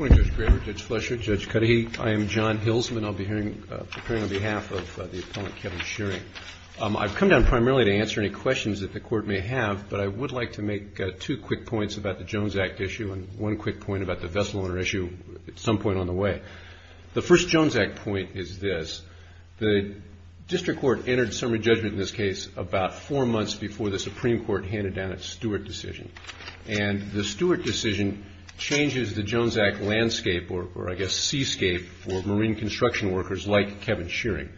I've come down primarily to answer any questions that the Court may have, but I would like to make two quick points about the Jones Act issue and one quick point about the Vessel Owner issue at some point on the way. The first Jones Act point is this. The District Court entered summary judgment in this case about four months before the Supreme Court handed down its Stewart decision. And the decision changes the Jones Act landscape, or I guess seascape, for marine construction workers like Kevin Shearing.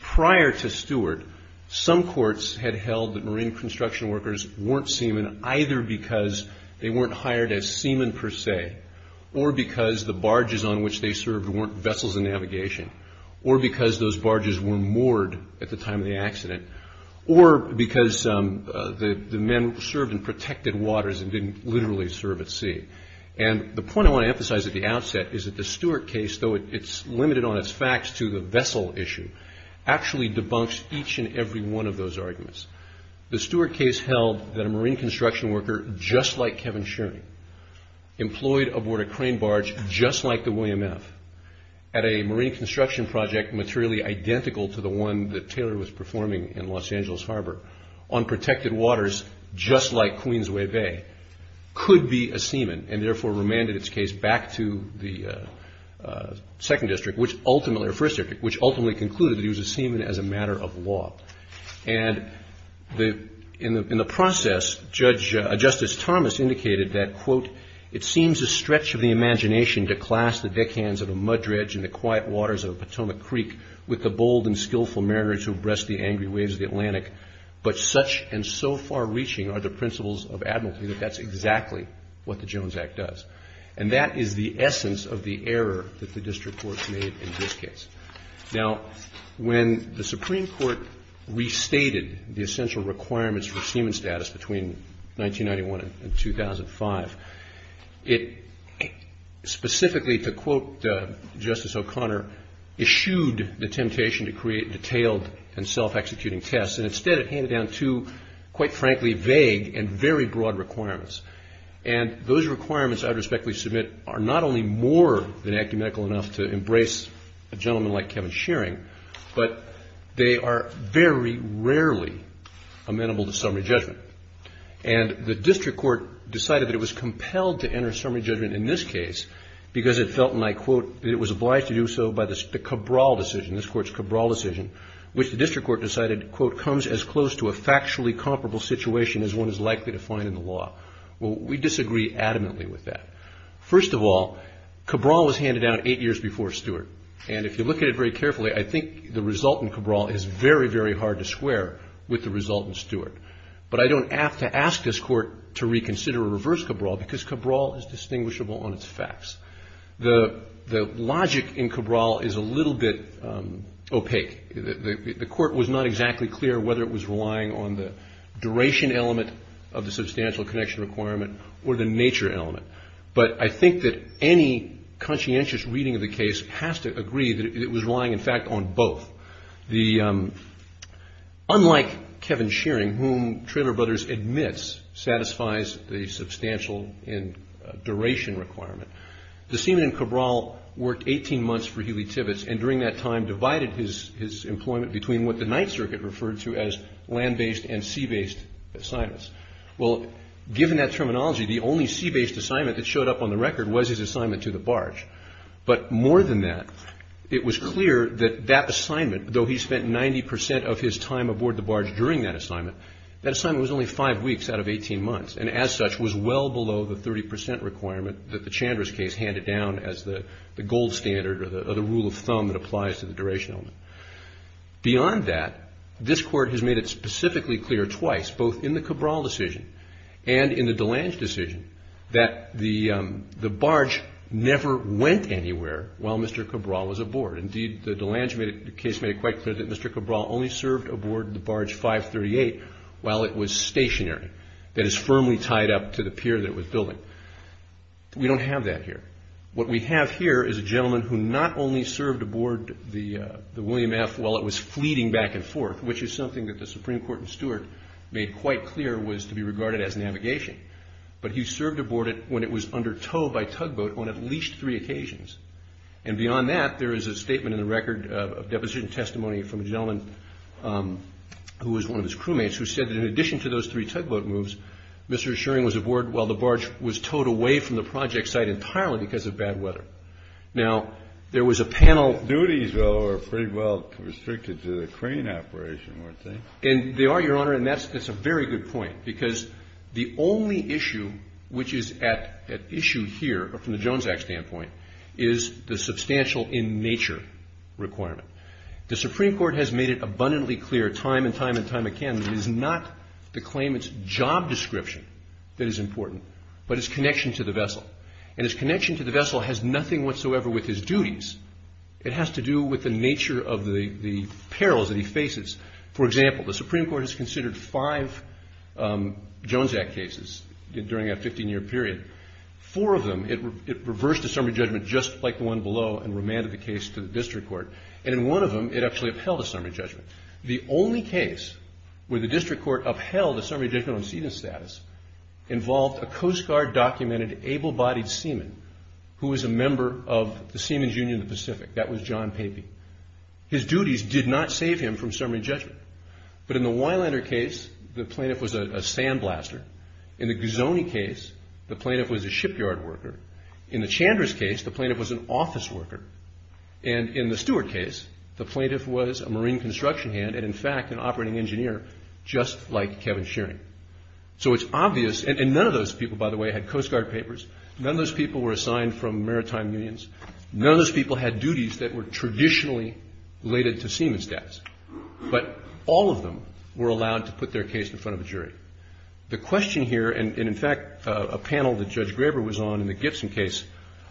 Prior to Stewart, some courts had held that marine construction workers weren't seamen either because they weren't hired as seamen per se, or because the barges on which they served weren't vessels of navigation, or because those barges were moored at the time of the And the point I want to emphasize at the outset is that the Stewart case, though it's limited on its facts to the vessel issue, actually debunks each and every one of those arguments. The Stewart case held that a marine construction worker just like Kevin Shearing, employed aboard a crane barge just like the William F., at a marine construction project materially identical to the one that Taylor was performing in Los Angeles Harbor, on protected waters just like Queensway Bay, could be a seamen, and therefore remanded its case back to the Second District, or First District, which ultimately concluded that he was a seamen as a matter of law. And in the process, Justice Thomas indicated that, quote, it seems a stretch of the imagination to class the deckhands of a mud ridge and the quiet waters of a Potomac Creek with the bold and skillful mariners who abreast the angry waves of the Atlantic, but such and so far-reaching are the principles of admiralty that that's exactly what the Jones Act does. And that is the essence of the error that the District Courts made in this case. Now, when the Supreme Court restated the essential requirements for seamen status between 1991 and 2005, it specifically, to quote Justice O'Connor, eschewed the temptation to create detailed and self-executing tests, and instead it handed down two, quite frankly, vague and very broad requirements. And those requirements I would respectfully submit are not only more than ecumenical enough to embrace a gentleman like Kevin Shearing, but they are very rarely amenable to summary judgment. And the District Court decided that it was compelled to enter summary judgment in this case because it felt, and I quote, that it was obliged to do so by the Cabral decision, this Court's Cabral decision, which the District Court decided, quote, comes as close to a factually comparable situation as one is likely to find in the law. Well, we disagree adamantly with that. First of all, Cabral was handed down eight years before Stewart. And if you look at it very carefully, I think the result in Cabral is very, very hard to square with the result in Stewart. But I don't have to ask this Court to reconsider or reverse Cabral because Cabral is distinguishable on its facts. The logic in Cabral is a little bit opaque. The Court was not exactly clear whether it was relying on the duration element of the substantial connection requirement or the nature element. But I think that any conscientious reading of the case has to agree that it was relying, in fact, on both. Unlike Kevin Shearing, whom Traylor Brothers admits satisfies the substantial and duration requirement, the Seaman in Cabral worked 18 months for Healy Tibbets and during that time divided his employment between what the Ninth Circuit referred to as land-based and sea-based assignments. Well, given that terminology, the only sea-based assignment that showed up on the record was his assignment to the barge. But more than that, it was clear that that assignment, though he spent 90 percent of his time aboard the barge during that assignment, that assignment was only five weeks out of handed down as the gold standard or the rule of thumb that applies to the duration element. Beyond that, this Court has made it specifically clear twice, both in the Cabral decision and in the DeLange decision, that the barge never went anywhere while Mr. Cabral was aboard. Indeed, the DeLange case made it quite clear that Mr. Cabral only served aboard the barge 538 while it was stationary, that is firmly tied up to the pier that it was building. But we don't have that here. What we have here is a gentleman who not only served aboard the William F. while it was fleeting back and forth, which is something that the Supreme Court in Stewart made quite clear was to be regarded as navigation, but he served aboard it when it was under tow by tugboat on at least three occasions. And beyond that, there is a statement in the record of deposition testimony from a gentleman who was one of his crewmates who said that in addition to those three tugboat moves, Mr. Schering was aboard while the barge was towed away from the project site entirely because of bad weather. Now, there was a panel. The duties, though, are pretty well restricted to the crane operation, weren't they? And they are, Your Honor, and that's a very good point because the only issue which is at issue here from the Jones Act standpoint is the substantial in nature requirement. The Supreme Court has made it abundantly clear time and time and time again that it is not the claimant's job description that is important, but his connection to the vessel. And his connection to the vessel has nothing whatsoever with his duties. It has to do with the nature of the perils that he faces. For example, the Supreme Court has considered five Jones Act cases during a 15-year period. Four of them, it reversed a summary judgment just like the one below and remanded the case to the district court. And in one of them, it actually upheld a summary judgment. The only case where the district court upheld a summary judgment on season status involved a Coast Guard documented able-bodied seaman who was a member of the Seaman's Union of the Pacific. That was John Papey. His duties did not save him from summary judgment. But in the Weilander case, the plaintiff was a sandblaster. In the Gazzone case, the plaintiff was a shipyard worker. In the Chandra's case, the plaintiff was an office worker. And in the Stewart case, the plaintiff was a marine construction hand and, in fact, an operating engineer just like Kevin Shearing. So it's obvious, and none of those people, by the way, had Coast Guard papers. None of those people were assigned from maritime unions. None of those people had duties that were traditionally related to seaman status. But all of them were allowed to put their case in front of a jury. The question here, and in fact, a panel that Judge Graber was on in the Gibson case,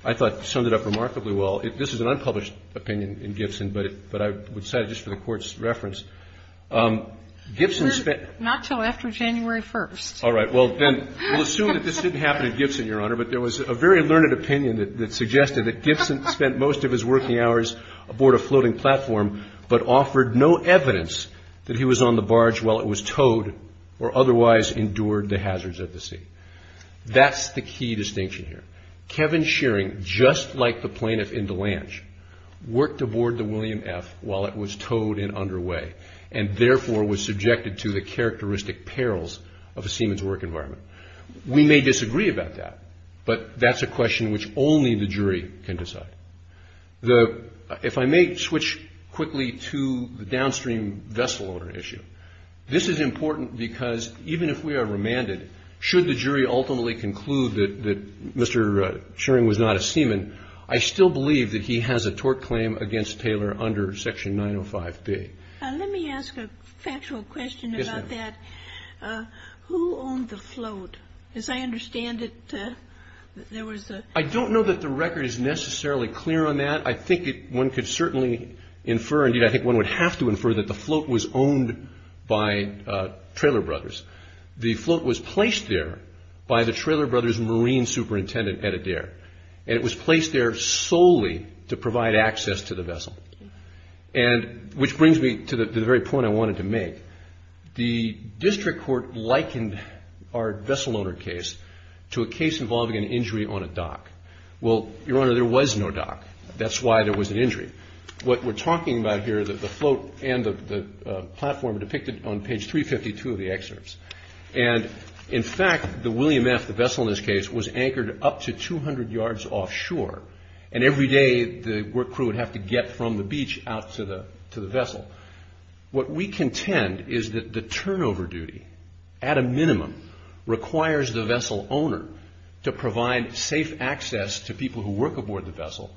I thought summed it up remarkably well. This is an unpublished opinion in Gibson, but I would cite it just for the court's reference. Gibson spent- Not until after January 1st. All right. Well, then we'll assume that this didn't happen at Gibson, Your Honor, but there was a very learned opinion that suggested that Gibson spent most of his working hours aboard a floating platform but offered no evidence that he was on the barge while it was towed or otherwise endured the hazards of the sea. That's the key distinction here. Kevin Shearing, just like the plaintiff in DeLange, worked aboard the William F. while it was towed and underway, and therefore, was subjected to the characteristic perils of a seaman's work environment. We may disagree about that, but that's a question which only the jury can decide. If I may switch quickly to the downstream vessel owner issue. This is important because even if we are remanded, should the jury ultimately conclude that Mr. Shearing was not a seaman, I still believe that he has a tort claim against Taylor under Section 905B. Let me ask a factual question about that. Who owned the float? As I understand it, there was a- I don't know that the record is necessarily clear on that. I think one could certainly infer, and I think one would have to infer, that the float was owned by Traylor Brothers. The float was placed there by the Traylor Brothers Marine Superintendent, Ed Adair, and it was placed there solely to provide access to the vessel. Which brings me to the very point I wanted to make. The district court likened our vessel owner case to a case involving an injury on a dock. Well, Your Honor, there was no dock. That's why there was an injury. What we're talking about here, the float and the platform, are depicted on page 352 of the excerpts. And in fact, the William F., the vessel in this case, was anchored up to 200 yards offshore. And every day, the work crew would have to get from the beach out to the vessel. What we contend is that the turnover duty, at a minimum, requires the vessel owner to provide safe access to people who work aboard the vessel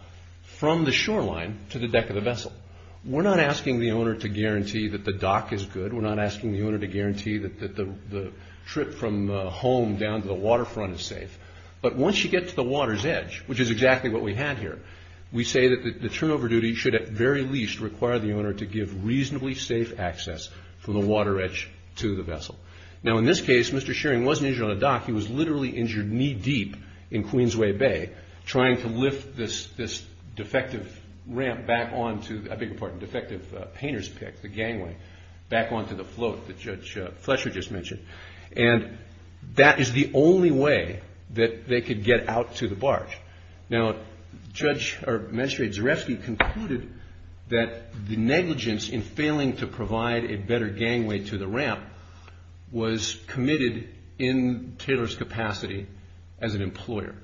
from the shoreline to the deck of the vessel. We're not asking the owner to guarantee that the dock is good. We're not asking the owner to guarantee that the trip from home down to the waterfront is safe. But once you get to the water's edge, which is exactly what we had here, we say that the turnover duty should, at the very least, require the owner to give reasonably safe access from the water edge to the vessel. Now, in this case, Mr. Shearing wasn't injured on a dock. He was literally injured knee-deep in Queensway Bay, trying to lift this defective ramp back onto, I beg your pardon, defective painter's pick, the gangway, back onto the float that Judge Fletcher just mentioned. And that is the only way that they could get out to the barge. Now, Judge, or Magistrate Zarefsky, concluded that the negligence in failing to provide a better gangway to the ramp was committed in Taylor's capacity as an employer.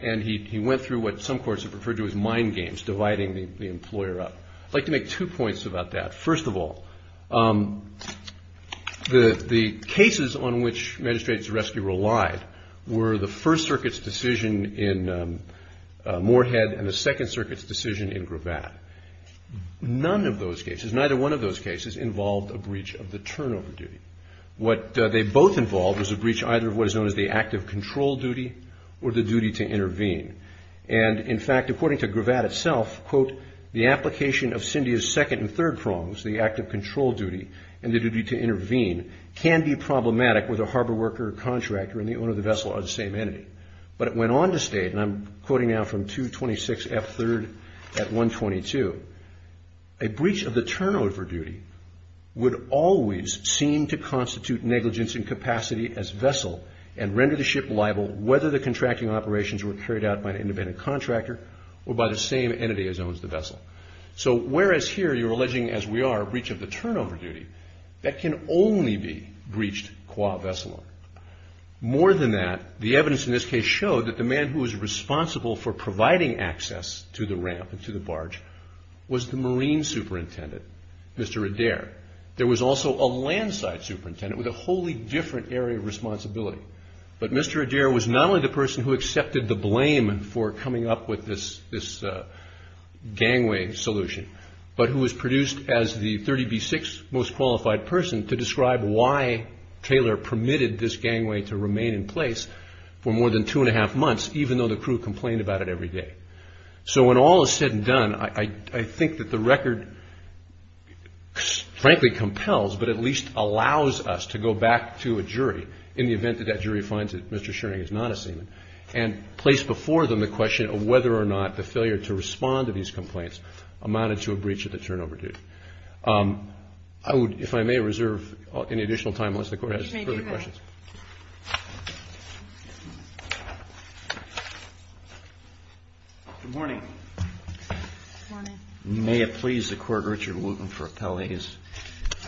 And he went through what some courts have referred to as mind games, dividing the employer up. I'd like to make two points about that. First of all, the cases on which Magistrate Zarefsky relied were the First Circuit's decision in Moorhead and the Second Circuit's decision in Gravatt. None of those cases, neither one of those cases, involved a breach of the turnover duty. What they both involved was a breach either of what is known as the active control duty or the duty to intervene. And, in fact, according to Gravatt itself, quote, the application of Cindy's second and third prongs, the active control duty and the duty to intervene, can be problematic with a harbor worker or contractor and the owner of the vessel or the same entity. But it went on to state, and I'm quoting now from 226F3 at 122, a breach of the turnover duty would always seem to constitute negligence in capacity as vessel and render the ship liable whether the contracting operations were carried out by an independent contractor or by the same entity as owns the vessel. So whereas here you're alleging, as we are, a breach of the turnover duty, that can only be breached qua vessel. More than that, the evidence in this case showed that the man who was responsible for providing access to the ramp and to the barge was the Marine Superintendent, Mr. Adair. There was also a land side superintendent with a wholly different area of responsibility. But Mr. Adair was not only the person who accepted the blame for coming up with this gangway solution, but who was produced as the 30B6 most qualified person to describe why Taylor permitted this gangway to remain in place for more than two and a half months, even though the crew complained about it every day. So when all is said and done, I think that the record, frankly, compels, but at least allows us to go back to a jury in the event that that jury finds that Mr. Schering is not a seaman, and place before them the question of whether or not the failure to respond to these complaints amounted to a breach of the turnover duty. I would, if I may, reserve any additional time unless the court has further questions. Good morning. Good morning. May it please the Court, Richard Wooten for appellees.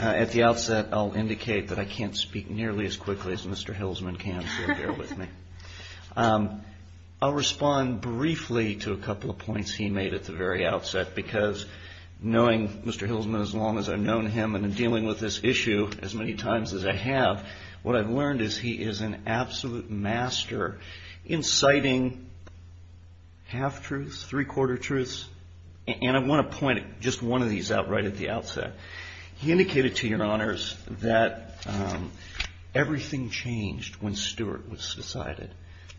At the outset, I'll indicate that I can't speak nearly as quickly as Mr. Hilsman can, so bear with me. I'll respond briefly to a couple of points he made at the very outset, because knowing Mr. Hilsman as long as I've known him and in dealing with this issue as many times as I have, what I've learned is he is an absolute master inciting half-truths, three-quarter truths, and I want to point just one of these out right at the outset. He indicated to your honors that everything changed when Stewart was decided.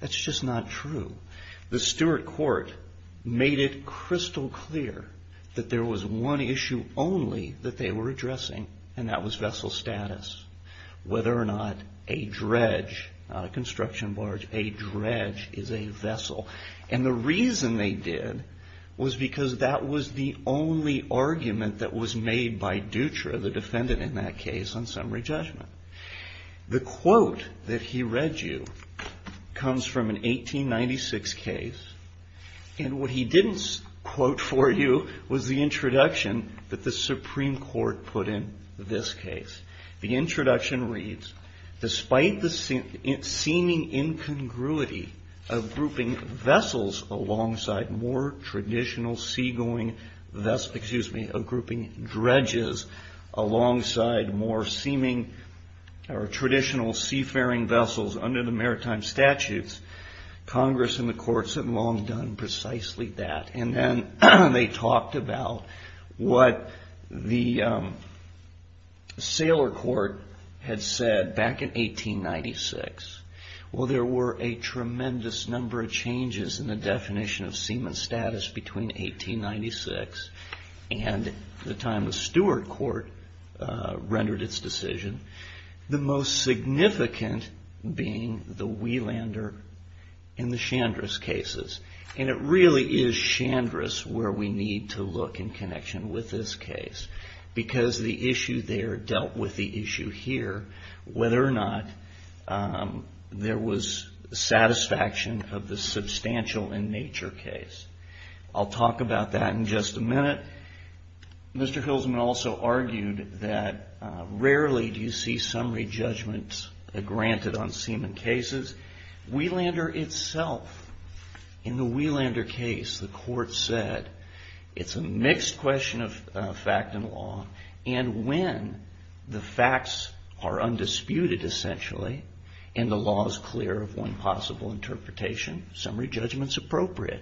That's just not true. The Stewart court made it crystal clear that there was one issue only that they were addressing, and that was vessel status. Whether or not a dredge, not a construction barge, a dredge is a vessel. And the reason they did was because that was the only argument that was made by Dutra, the defendant in that case, on summary judgment. The quote that he read you comes from an 1896 case, and what he didn't quote for you was the introduction that the Supreme Court put in this case. The introduction reads, despite the seeming incongruity of grouping vessels alongside more traditional seagoing, excuse me, of grouping dredges alongside more seeming or traditional seafaring vessels under the maritime statutes, Congress and the courts had long done precisely that. And then they talked about what the sailor court had said back in 1896. Well, there were a tremendous number of changes in the definition of seamen status between 1896 and the time the Stewart court rendered its decision. The most significant being the Wielander and the Chandris cases. And it really is Chandris where we need to look in connection with this case because the issue there dealt with the issue here, whether or not there was satisfaction of the substantial in nature case. I'll talk about that in just a minute. Mr. Hilsman also argued that rarely do you see summary judgments granted on seamen cases. Wielander itself, in the Wielander case, the court said it's a mixed question of fact and law. And when the facts are undisputed, essentially, and the law is clear of one possible interpretation, summary judgment's appropriate.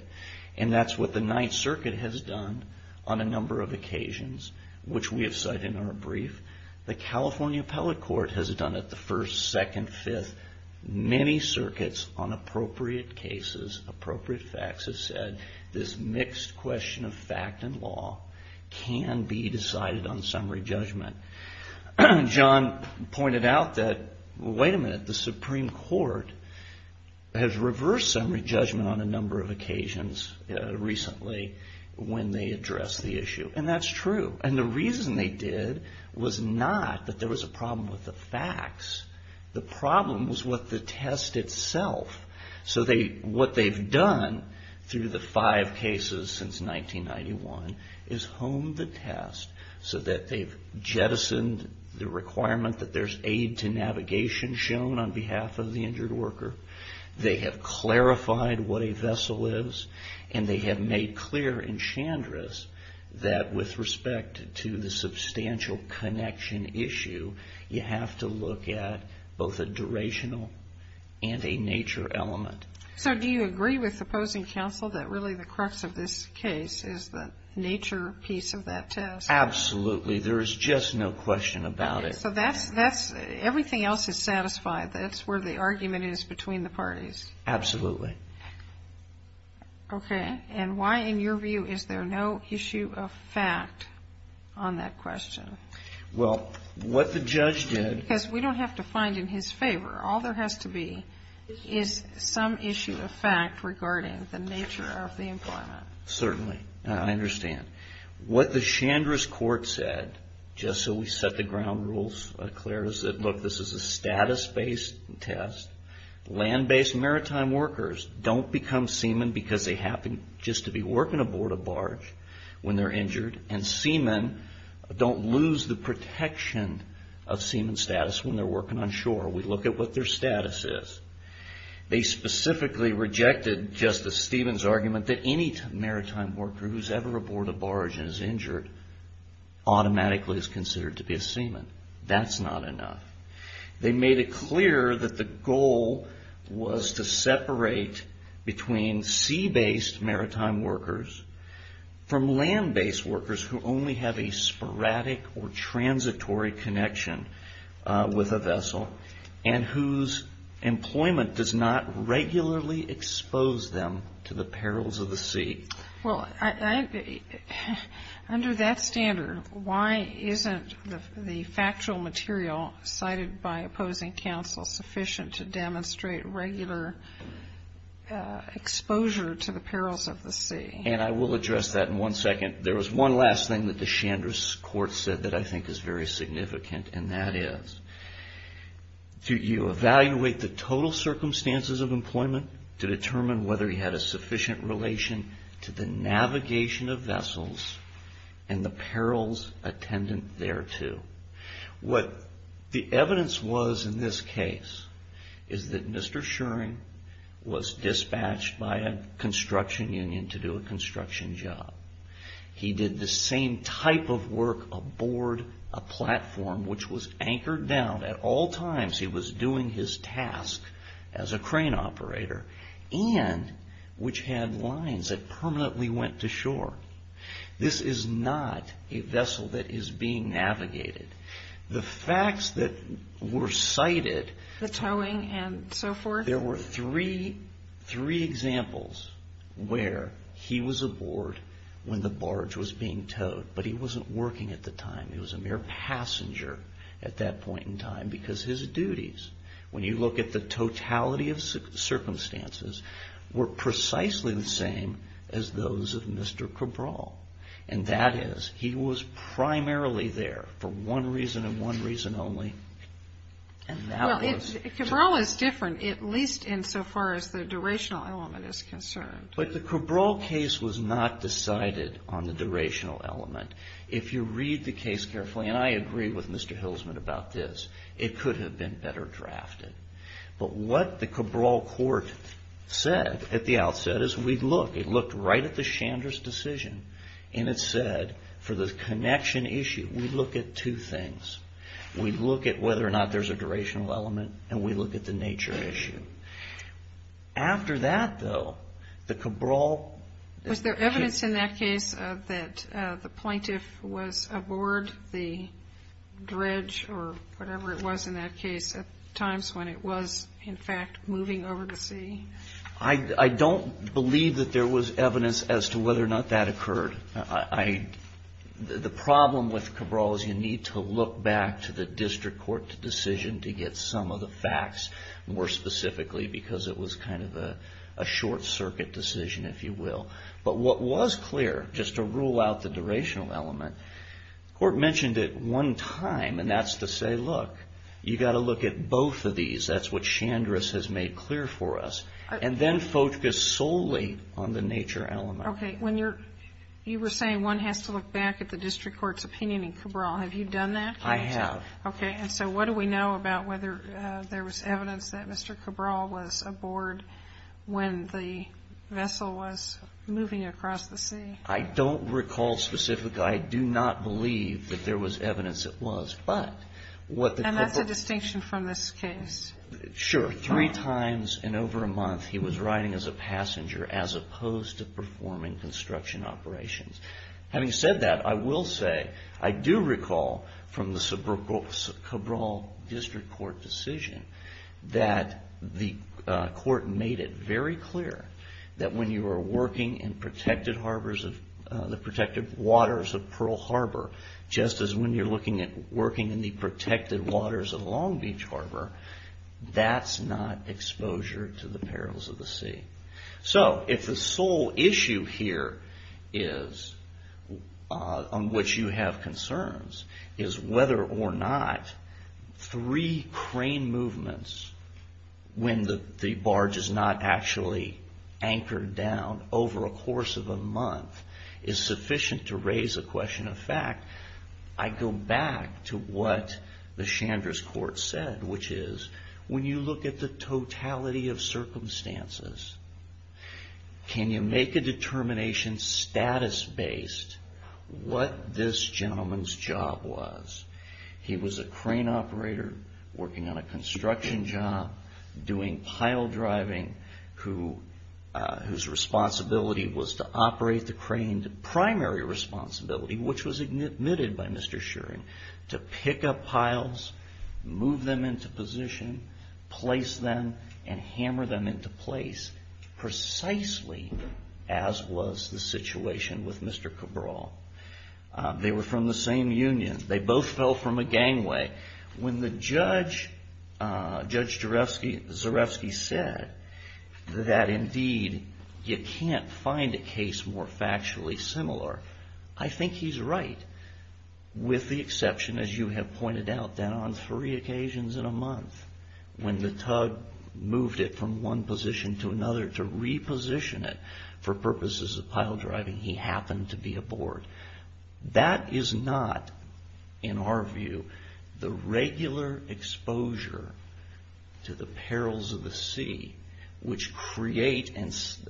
And that's what the Ninth Circuit has done on a number of occasions, which we have cited in our brief. The California Appellate Court has done it the first, second, fifth, many circuits on appropriate cases, appropriate facts have said this mixed question of fact and law can be decided on summary judgment. John pointed out that, wait a minute, the Supreme Court has reversed summary judgment on a number of occasions recently when they addressed the issue. And that's true. And the reason they did was not that there was a problem with the facts. The problem was with the test itself. So what they've done through the five cases since 1991 is honed the test so that they've jettisoned the requirement that there's aid to navigation shown on behalf of the injured worker. They have clarified what a vessel is. And they have made clear in Chandris that with respect to the substantial connection issue, you have to look at both a durational and a nature element. So do you agree with opposing counsel that really the crux of this case is the nature piece of that test? Absolutely. There is just no question about it. So that's, everything else is satisfied. That's where the argument is between the parties. Absolutely. Okay. And why, in your view, is there no issue of fact on that question? Well, what the judge did. Because we don't have to find in his favor. All there has to be is some issue of fact regarding the nature of the employment. Certainly. I understand. What the Chandris court said, just so we set the ground rules clear, is that, look, this is a status-based test. Land-based maritime workers don't become seamen because they happen just to be working aboard a barge when they're injured. And seamen don't lose the protection of seamen status when they're working on shore. We look at what their status is. They specifically rejected Justice Stevens' argument that any maritime worker who's ever aboard that's not enough. They made it clear that the goal was to separate between sea-based maritime workers from land-based workers who only have a sporadic or transitory connection with a vessel and whose employment does not regularly expose them to the perils of the sea. Well, under that standard, why isn't the factual material cited by opposing counsel sufficient to demonstrate regular exposure to the perils of the sea? And I will address that in one second. There was one last thing that the Chandris court said that I think is very significant, and that is, you evaluate the total circumstances of employment to determine whether you had a connection to the navigation of vessels and the perils attendant thereto. What the evidence was in this case is that Mr. Schering was dispatched by a construction union to do a construction job. He did the same type of work aboard a platform which was anchored down at all times he was doing his task as a crane operator, and which had lines that permanently went to shore. This is not a vessel that is being navigated. The facts that were cited- The towing and so forth. There were three examples where he was aboard when the barge was being towed, but he wasn't working at the time. He was a mere passenger at that point in time, because his duties, when you look at the totality of circumstances, were precisely the same as those of Mr. Cabral. And that is, he was primarily there for one reason and one reason only, and that was- Cabral is different, at least insofar as the durational element is concerned. But the Cabral case was not decided on the durational element. If you read the case carefully, and I agree with Mr. Hilsman about this, it could have been better drafted. But what the Cabral court said at the outset is, we look, it looked right at the Chandra's decision and it said, for the connection issue, we look at two things. We look at whether or not there's a durational element, and we look at the nature issue. After that, though, the Cabral- Was there evidence in that case that the plaintiff was aboard the dredge, or whatever it was in that case, at times when it was, in fact, moving over to sea? I don't believe that there was evidence as to whether or not that occurred. The problem with Cabral is you need to look back to the district court decision to get some of the facts more specifically, because it was kind of a short circuit decision, if you will. But what was clear, just to rule out the durational element, the court mentioned it one time, and that's to say, look, you've got to look at both of these. That's what Chandra's has made clear for us. And then focus solely on the nature element. Okay. When you were saying one has to look back at the district court's opinion in Cabral, have you done that? I have. Okay. And so what do we know about whether there was evidence that Mr. Cabral was aboard when the vessel was moving across the sea? I don't recall specifically. I do not believe that there was evidence it was. But what the- And that's a distinction from this case. Sure. Three times in over a month, he was riding as a passenger, as opposed to performing construction operations. Having said that, I will say, I do recall from the Cabral district court decision that the court made it very clear that when you are working in protected harbors, the protected waters of Pearl Harbor, just as when you're looking at working in the protected waters of Long Beach Harbor, that's not exposure to the perils of the sea. So if the sole issue here is, on which you have concerns, is whether or not three crane movements when the barge is not actually anchored down over a course of a month is sufficient to raise a question of fact, I go back to what the Chandra's court said, which is when you look at the totality of circumstances, can you make a determination, status-based, what this gentleman's job was? He was a crane operator, working on a construction job, doing pile driving, whose responsibility was to operate the crane, the primary responsibility, which was admitted by Mr. Shearing, to pick up piles, move them into position, place them, and hammer them into place, precisely as was the situation with Mr. Cabral. They were from the same union. They both fell from a gangway. When Judge Zarefsky said that, indeed, you can't find a case more factually similar, I think he's right, with the exception, as you have pointed out, that on three occasions in a month, when the tug moved it from one position to another to reposition it for purposes of pile driving, he happened to be aboard. That is not, in our view, the regular exposure to the perils of the sea, which create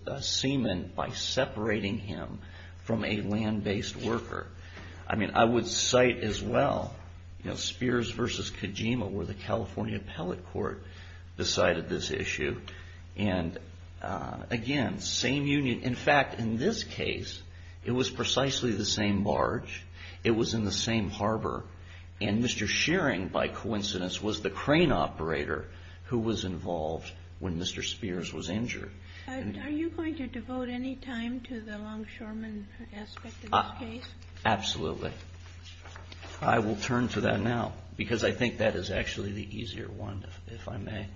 a seaman by separating him from a land-based worker. I would cite, as well, Spears v. Kojima, where the California Appellate Court decided this issue. Again, same union. In fact, in this case, it was precisely the same barge. It was in the same harbor. Mr. Shearing, by coincidence, was the crane operator who was involved when Mr. Spears was injured. Are you going to devote any time to the longshoreman aspect of this case? Absolutely. I will turn to that now, because I think that is actually the easier one, if I may.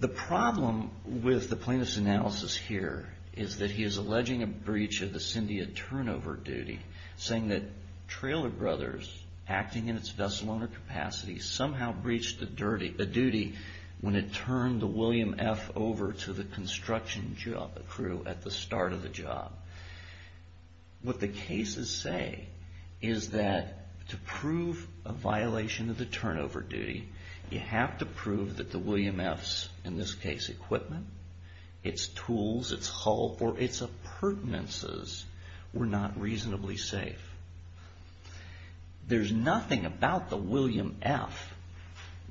The problem with the plaintiff's analysis here is that he is alleging a breach of the Cyndia turnover duty, saying that Trailer Brothers, acting in its vessel owner capacity, somehow breached a duty when it turned the William F. over to the construction crew at the start of the job. What the cases say is that to prove a violation of the turnover duty, you have to prove that the William F.'s, in this case, equipment, its tools, its hull, or its appurtenances were not reasonably safe. There's nothing about the William F.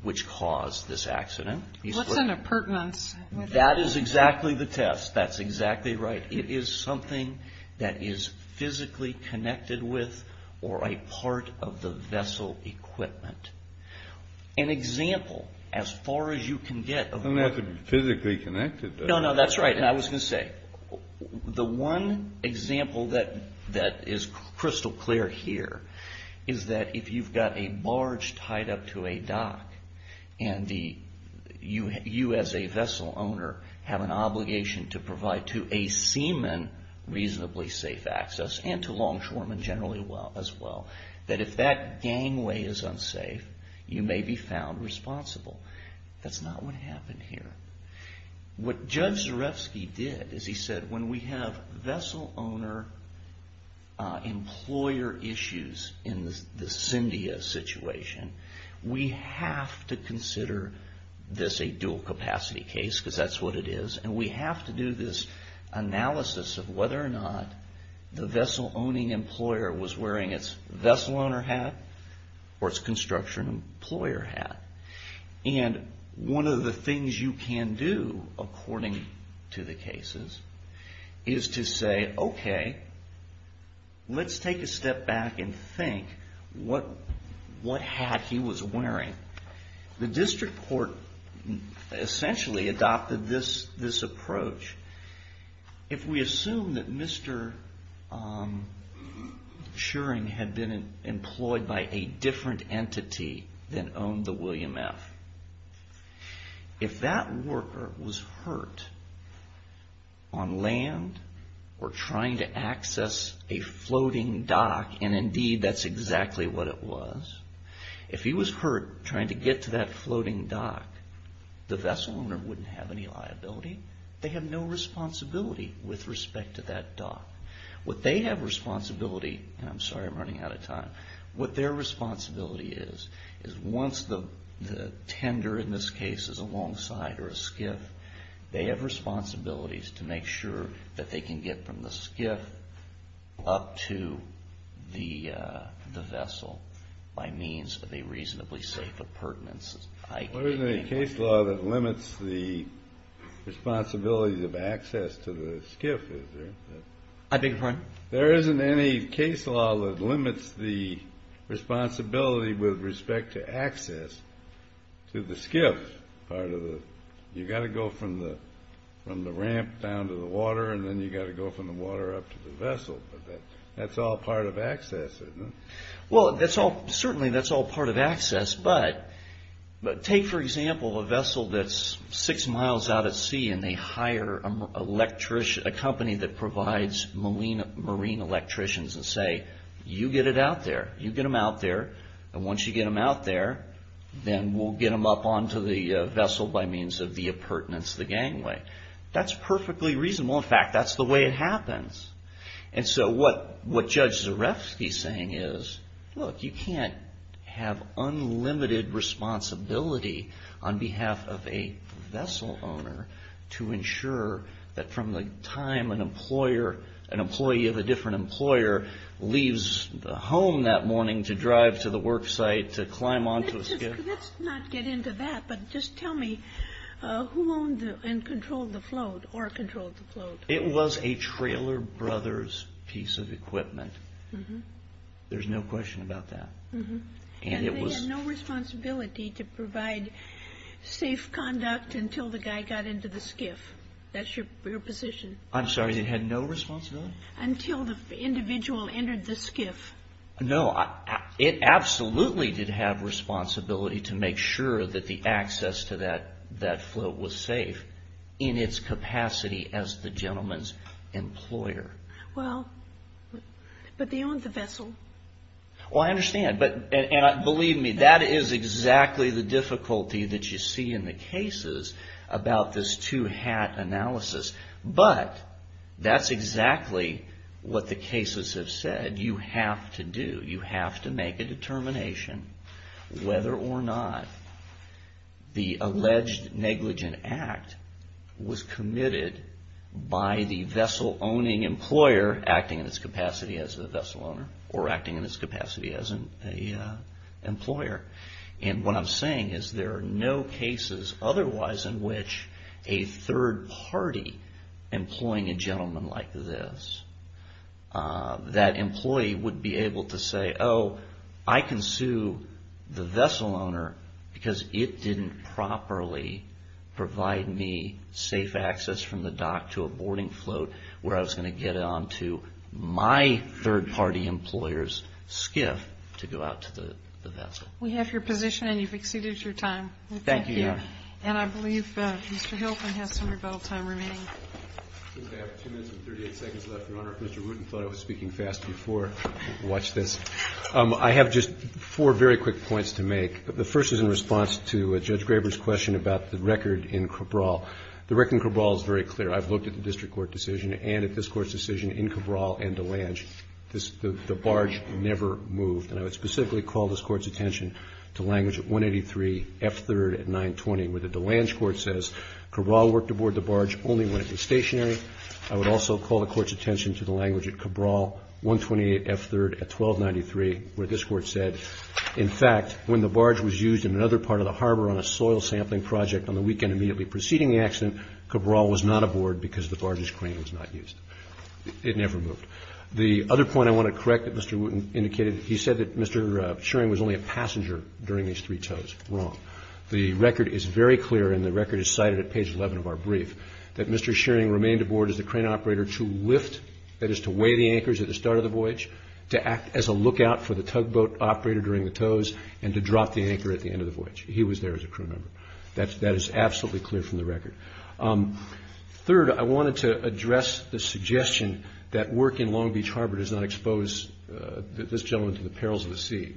which caused this accident. What's an appurtenance? That is exactly the test. That's exactly right. It is something that is physically connected with or a part of the vessel equipment. An example, as far as you can get... It doesn't have to be physically connected, does it? No, no, that's right. I was going to say, the one example that is crystal clear here is that if you've got a barge tied up to a dock and you, as a vessel owner, have an obligation to provide to a seaman reasonably safe access, and to longshoremen generally as well, that if that gangway is unsafe, you may be found responsible. That's not what happened here. What Judge Zarefsky did is he said, when we have vessel owner-employer issues in the Cyndia situation, we have to consider this a dual-capacity case, because that's what it is, and we have to do this analysis of whether or not the vessel-owning employer was wearing its vessel owner hat or its construction employer hat. And one of the things you can do, according to the cases, is to say, okay, let's take a step back and think what hat he was wearing. The district court essentially adopted this approach. If we assume that Mr. Turing had been employed by a different entity than owned the William F., if that worker was hurt on land or trying to access a floating dock, and indeed that's exactly what it was, if he was hurt trying to get to that floating dock, the vessel owner wouldn't have any liability. They have no responsibility with respect to that dock. What they have responsibility, and I'm sorry I'm running out of time, what their responsibility is, is once the tender in this case is alongside or a skiff, they have responsibilities to make sure that they can get from the skiff up to the vessel by means of a reasonably safe appurtenance. I can't think of anything else. There isn't any case law that limits the responsibility of access to the skiff, is there? I beg your pardon? There isn't any case law that limits the responsibility with respect to access to the skiff part of the... You've got to go from the ramp down to the water, and then you've got to go from the water up to the vessel, but that's all part of access, isn't it? Well, certainly that's all part of access, but take, for example, a vessel that's six miles out at sea and they hire a company that provides marine electricians and say, you get it out there. You get them out there, and once you get them out there, then we'll get them up onto the vessel by means of the appurtenance of the gangway. That's perfectly reasonable. In fact, that's the way it happens. And so what Judge Zarefsky's saying is, look, you can't have unlimited responsibility on behalf of a vessel owner to ensure that from the time an employer, an employee of a different employer leaves the home that morning to drive to the work site to climb onto a skiff... Let's not get into that, but just tell me, who owned and controlled the float, or controlled the float? It was a Trailer Brothers piece of equipment. There's no question about that. And they had no responsibility to provide safe conduct until the guy got into the skiff? That's your position? I'm sorry, they had no responsibility? Until the individual entered the skiff. No, it absolutely did have responsibility to make sure that the access to that float was safe in its capacity as the gentleman's employer. Well, but they owned the vessel. Well, I understand, and believe me, that is exactly the difficulty that you see in the cases about this two-hat analysis. But that's exactly what the cases have said you have to do. You have to make a determination whether or not the alleged negligent act was committed by the vessel-owning employer acting in its capacity as the vessel owner, or acting in its capacity as an employer. And what I'm saying is there are no cases otherwise in which a third party employing a gentleman like this, that employee would be able to say, oh, I can sue the vessel owner because it didn't properly provide me safe access from the dock to a boarding float where I was going to get on to my third party employer's skiff to go out to the vessel. We have your position, and you've exceeded your time. Thank you. And I believe Mr. Hill can have some rebuttal time remaining. I have 2 minutes and 38 seconds left, Your Honor. Mr. Rudin thought I was speaking fast before I watched this. I have just four very quick points to make. The first is in response to Judge Graber's question about the record in Cabral. The record in Cabral is very clear. I've looked at the district court decision and at this Court's decision in Cabral and DeLange. The barge never moved, and I would specifically call this Court's attention to language at 183 F3rd at 920, where the DeLange Court says Cabral worked aboard the barge only when it was stationary. I would also call the Court's attention to the language at Cabral 128 F3rd at 1293, where this Court said, in fact, when the barge was used in another part of the harbor on a soil sampling project on the weekend immediately preceding the accident, Cabral was not aboard because the barge's crane was not used. It never moved. The other point I want to correct that Mr. Rudin indicated, he said that Mr. Shearing was only a passenger during these three tows. Wrong. The record is very clear, and the record is cited at page 11 of our brief, that Mr. Shearing remained aboard as the crane operator to lift, that is to weigh the anchors at the start of the voyage, to act as a lookout for the tugboat operator during the tows, and to drop the anchor at the end of the voyage. He was there as a crew member. That is absolutely clear from the record. Third, I wanted to address the suggestion that work in Long Beach Harbor does not expose this gentleman to the perils of the sea.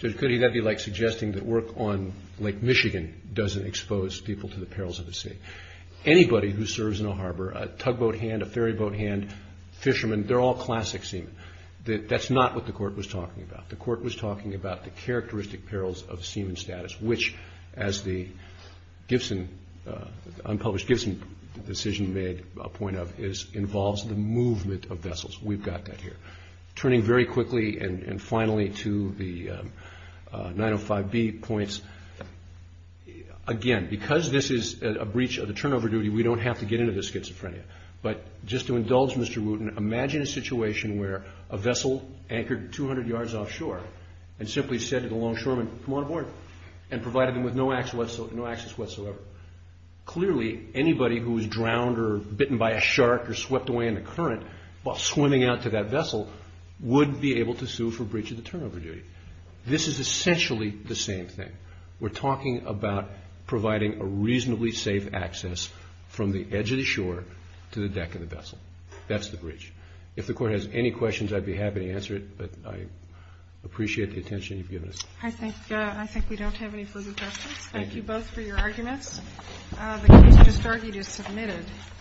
Could he not be like suggesting that work on Lake Michigan doesn't expose people to the perils of the sea? Anybody who serves in a harbor, a tugboat hand, a ferryboat hand, fishermen, they're all classic seamen. That's not what the Court was talking about. The Court was talking about the characteristic perils of seaman status, which, as the unpublished Gibson decision made a point of, involves the movement of vessels. We've got that here. Turning very quickly and finally to the 905B points, again, because this is a breach of the turnover duty, we don't have to get into the schizophrenia. But just to indulge Mr. Wooten, imagine a situation where a vessel anchored 200 yards offshore and simply said to the longshoremen, come on aboard, and provided them with no access whatsoever. Clearly, anybody who's drowned or bitten by a shark or swept away in the current while swimming out to that vessel would be able to sue for breach of the turnover duty. This is essentially the same thing. We're talking about providing a reasonably safe access from the edge of the shore to the deck of the vessel. That's the breach. If the Court has any questions, I'd be happy to answer it. But I appreciate the attention you've given us. I think we don't have any further questions. Thank you both for your arguments. The case just argued is submitted.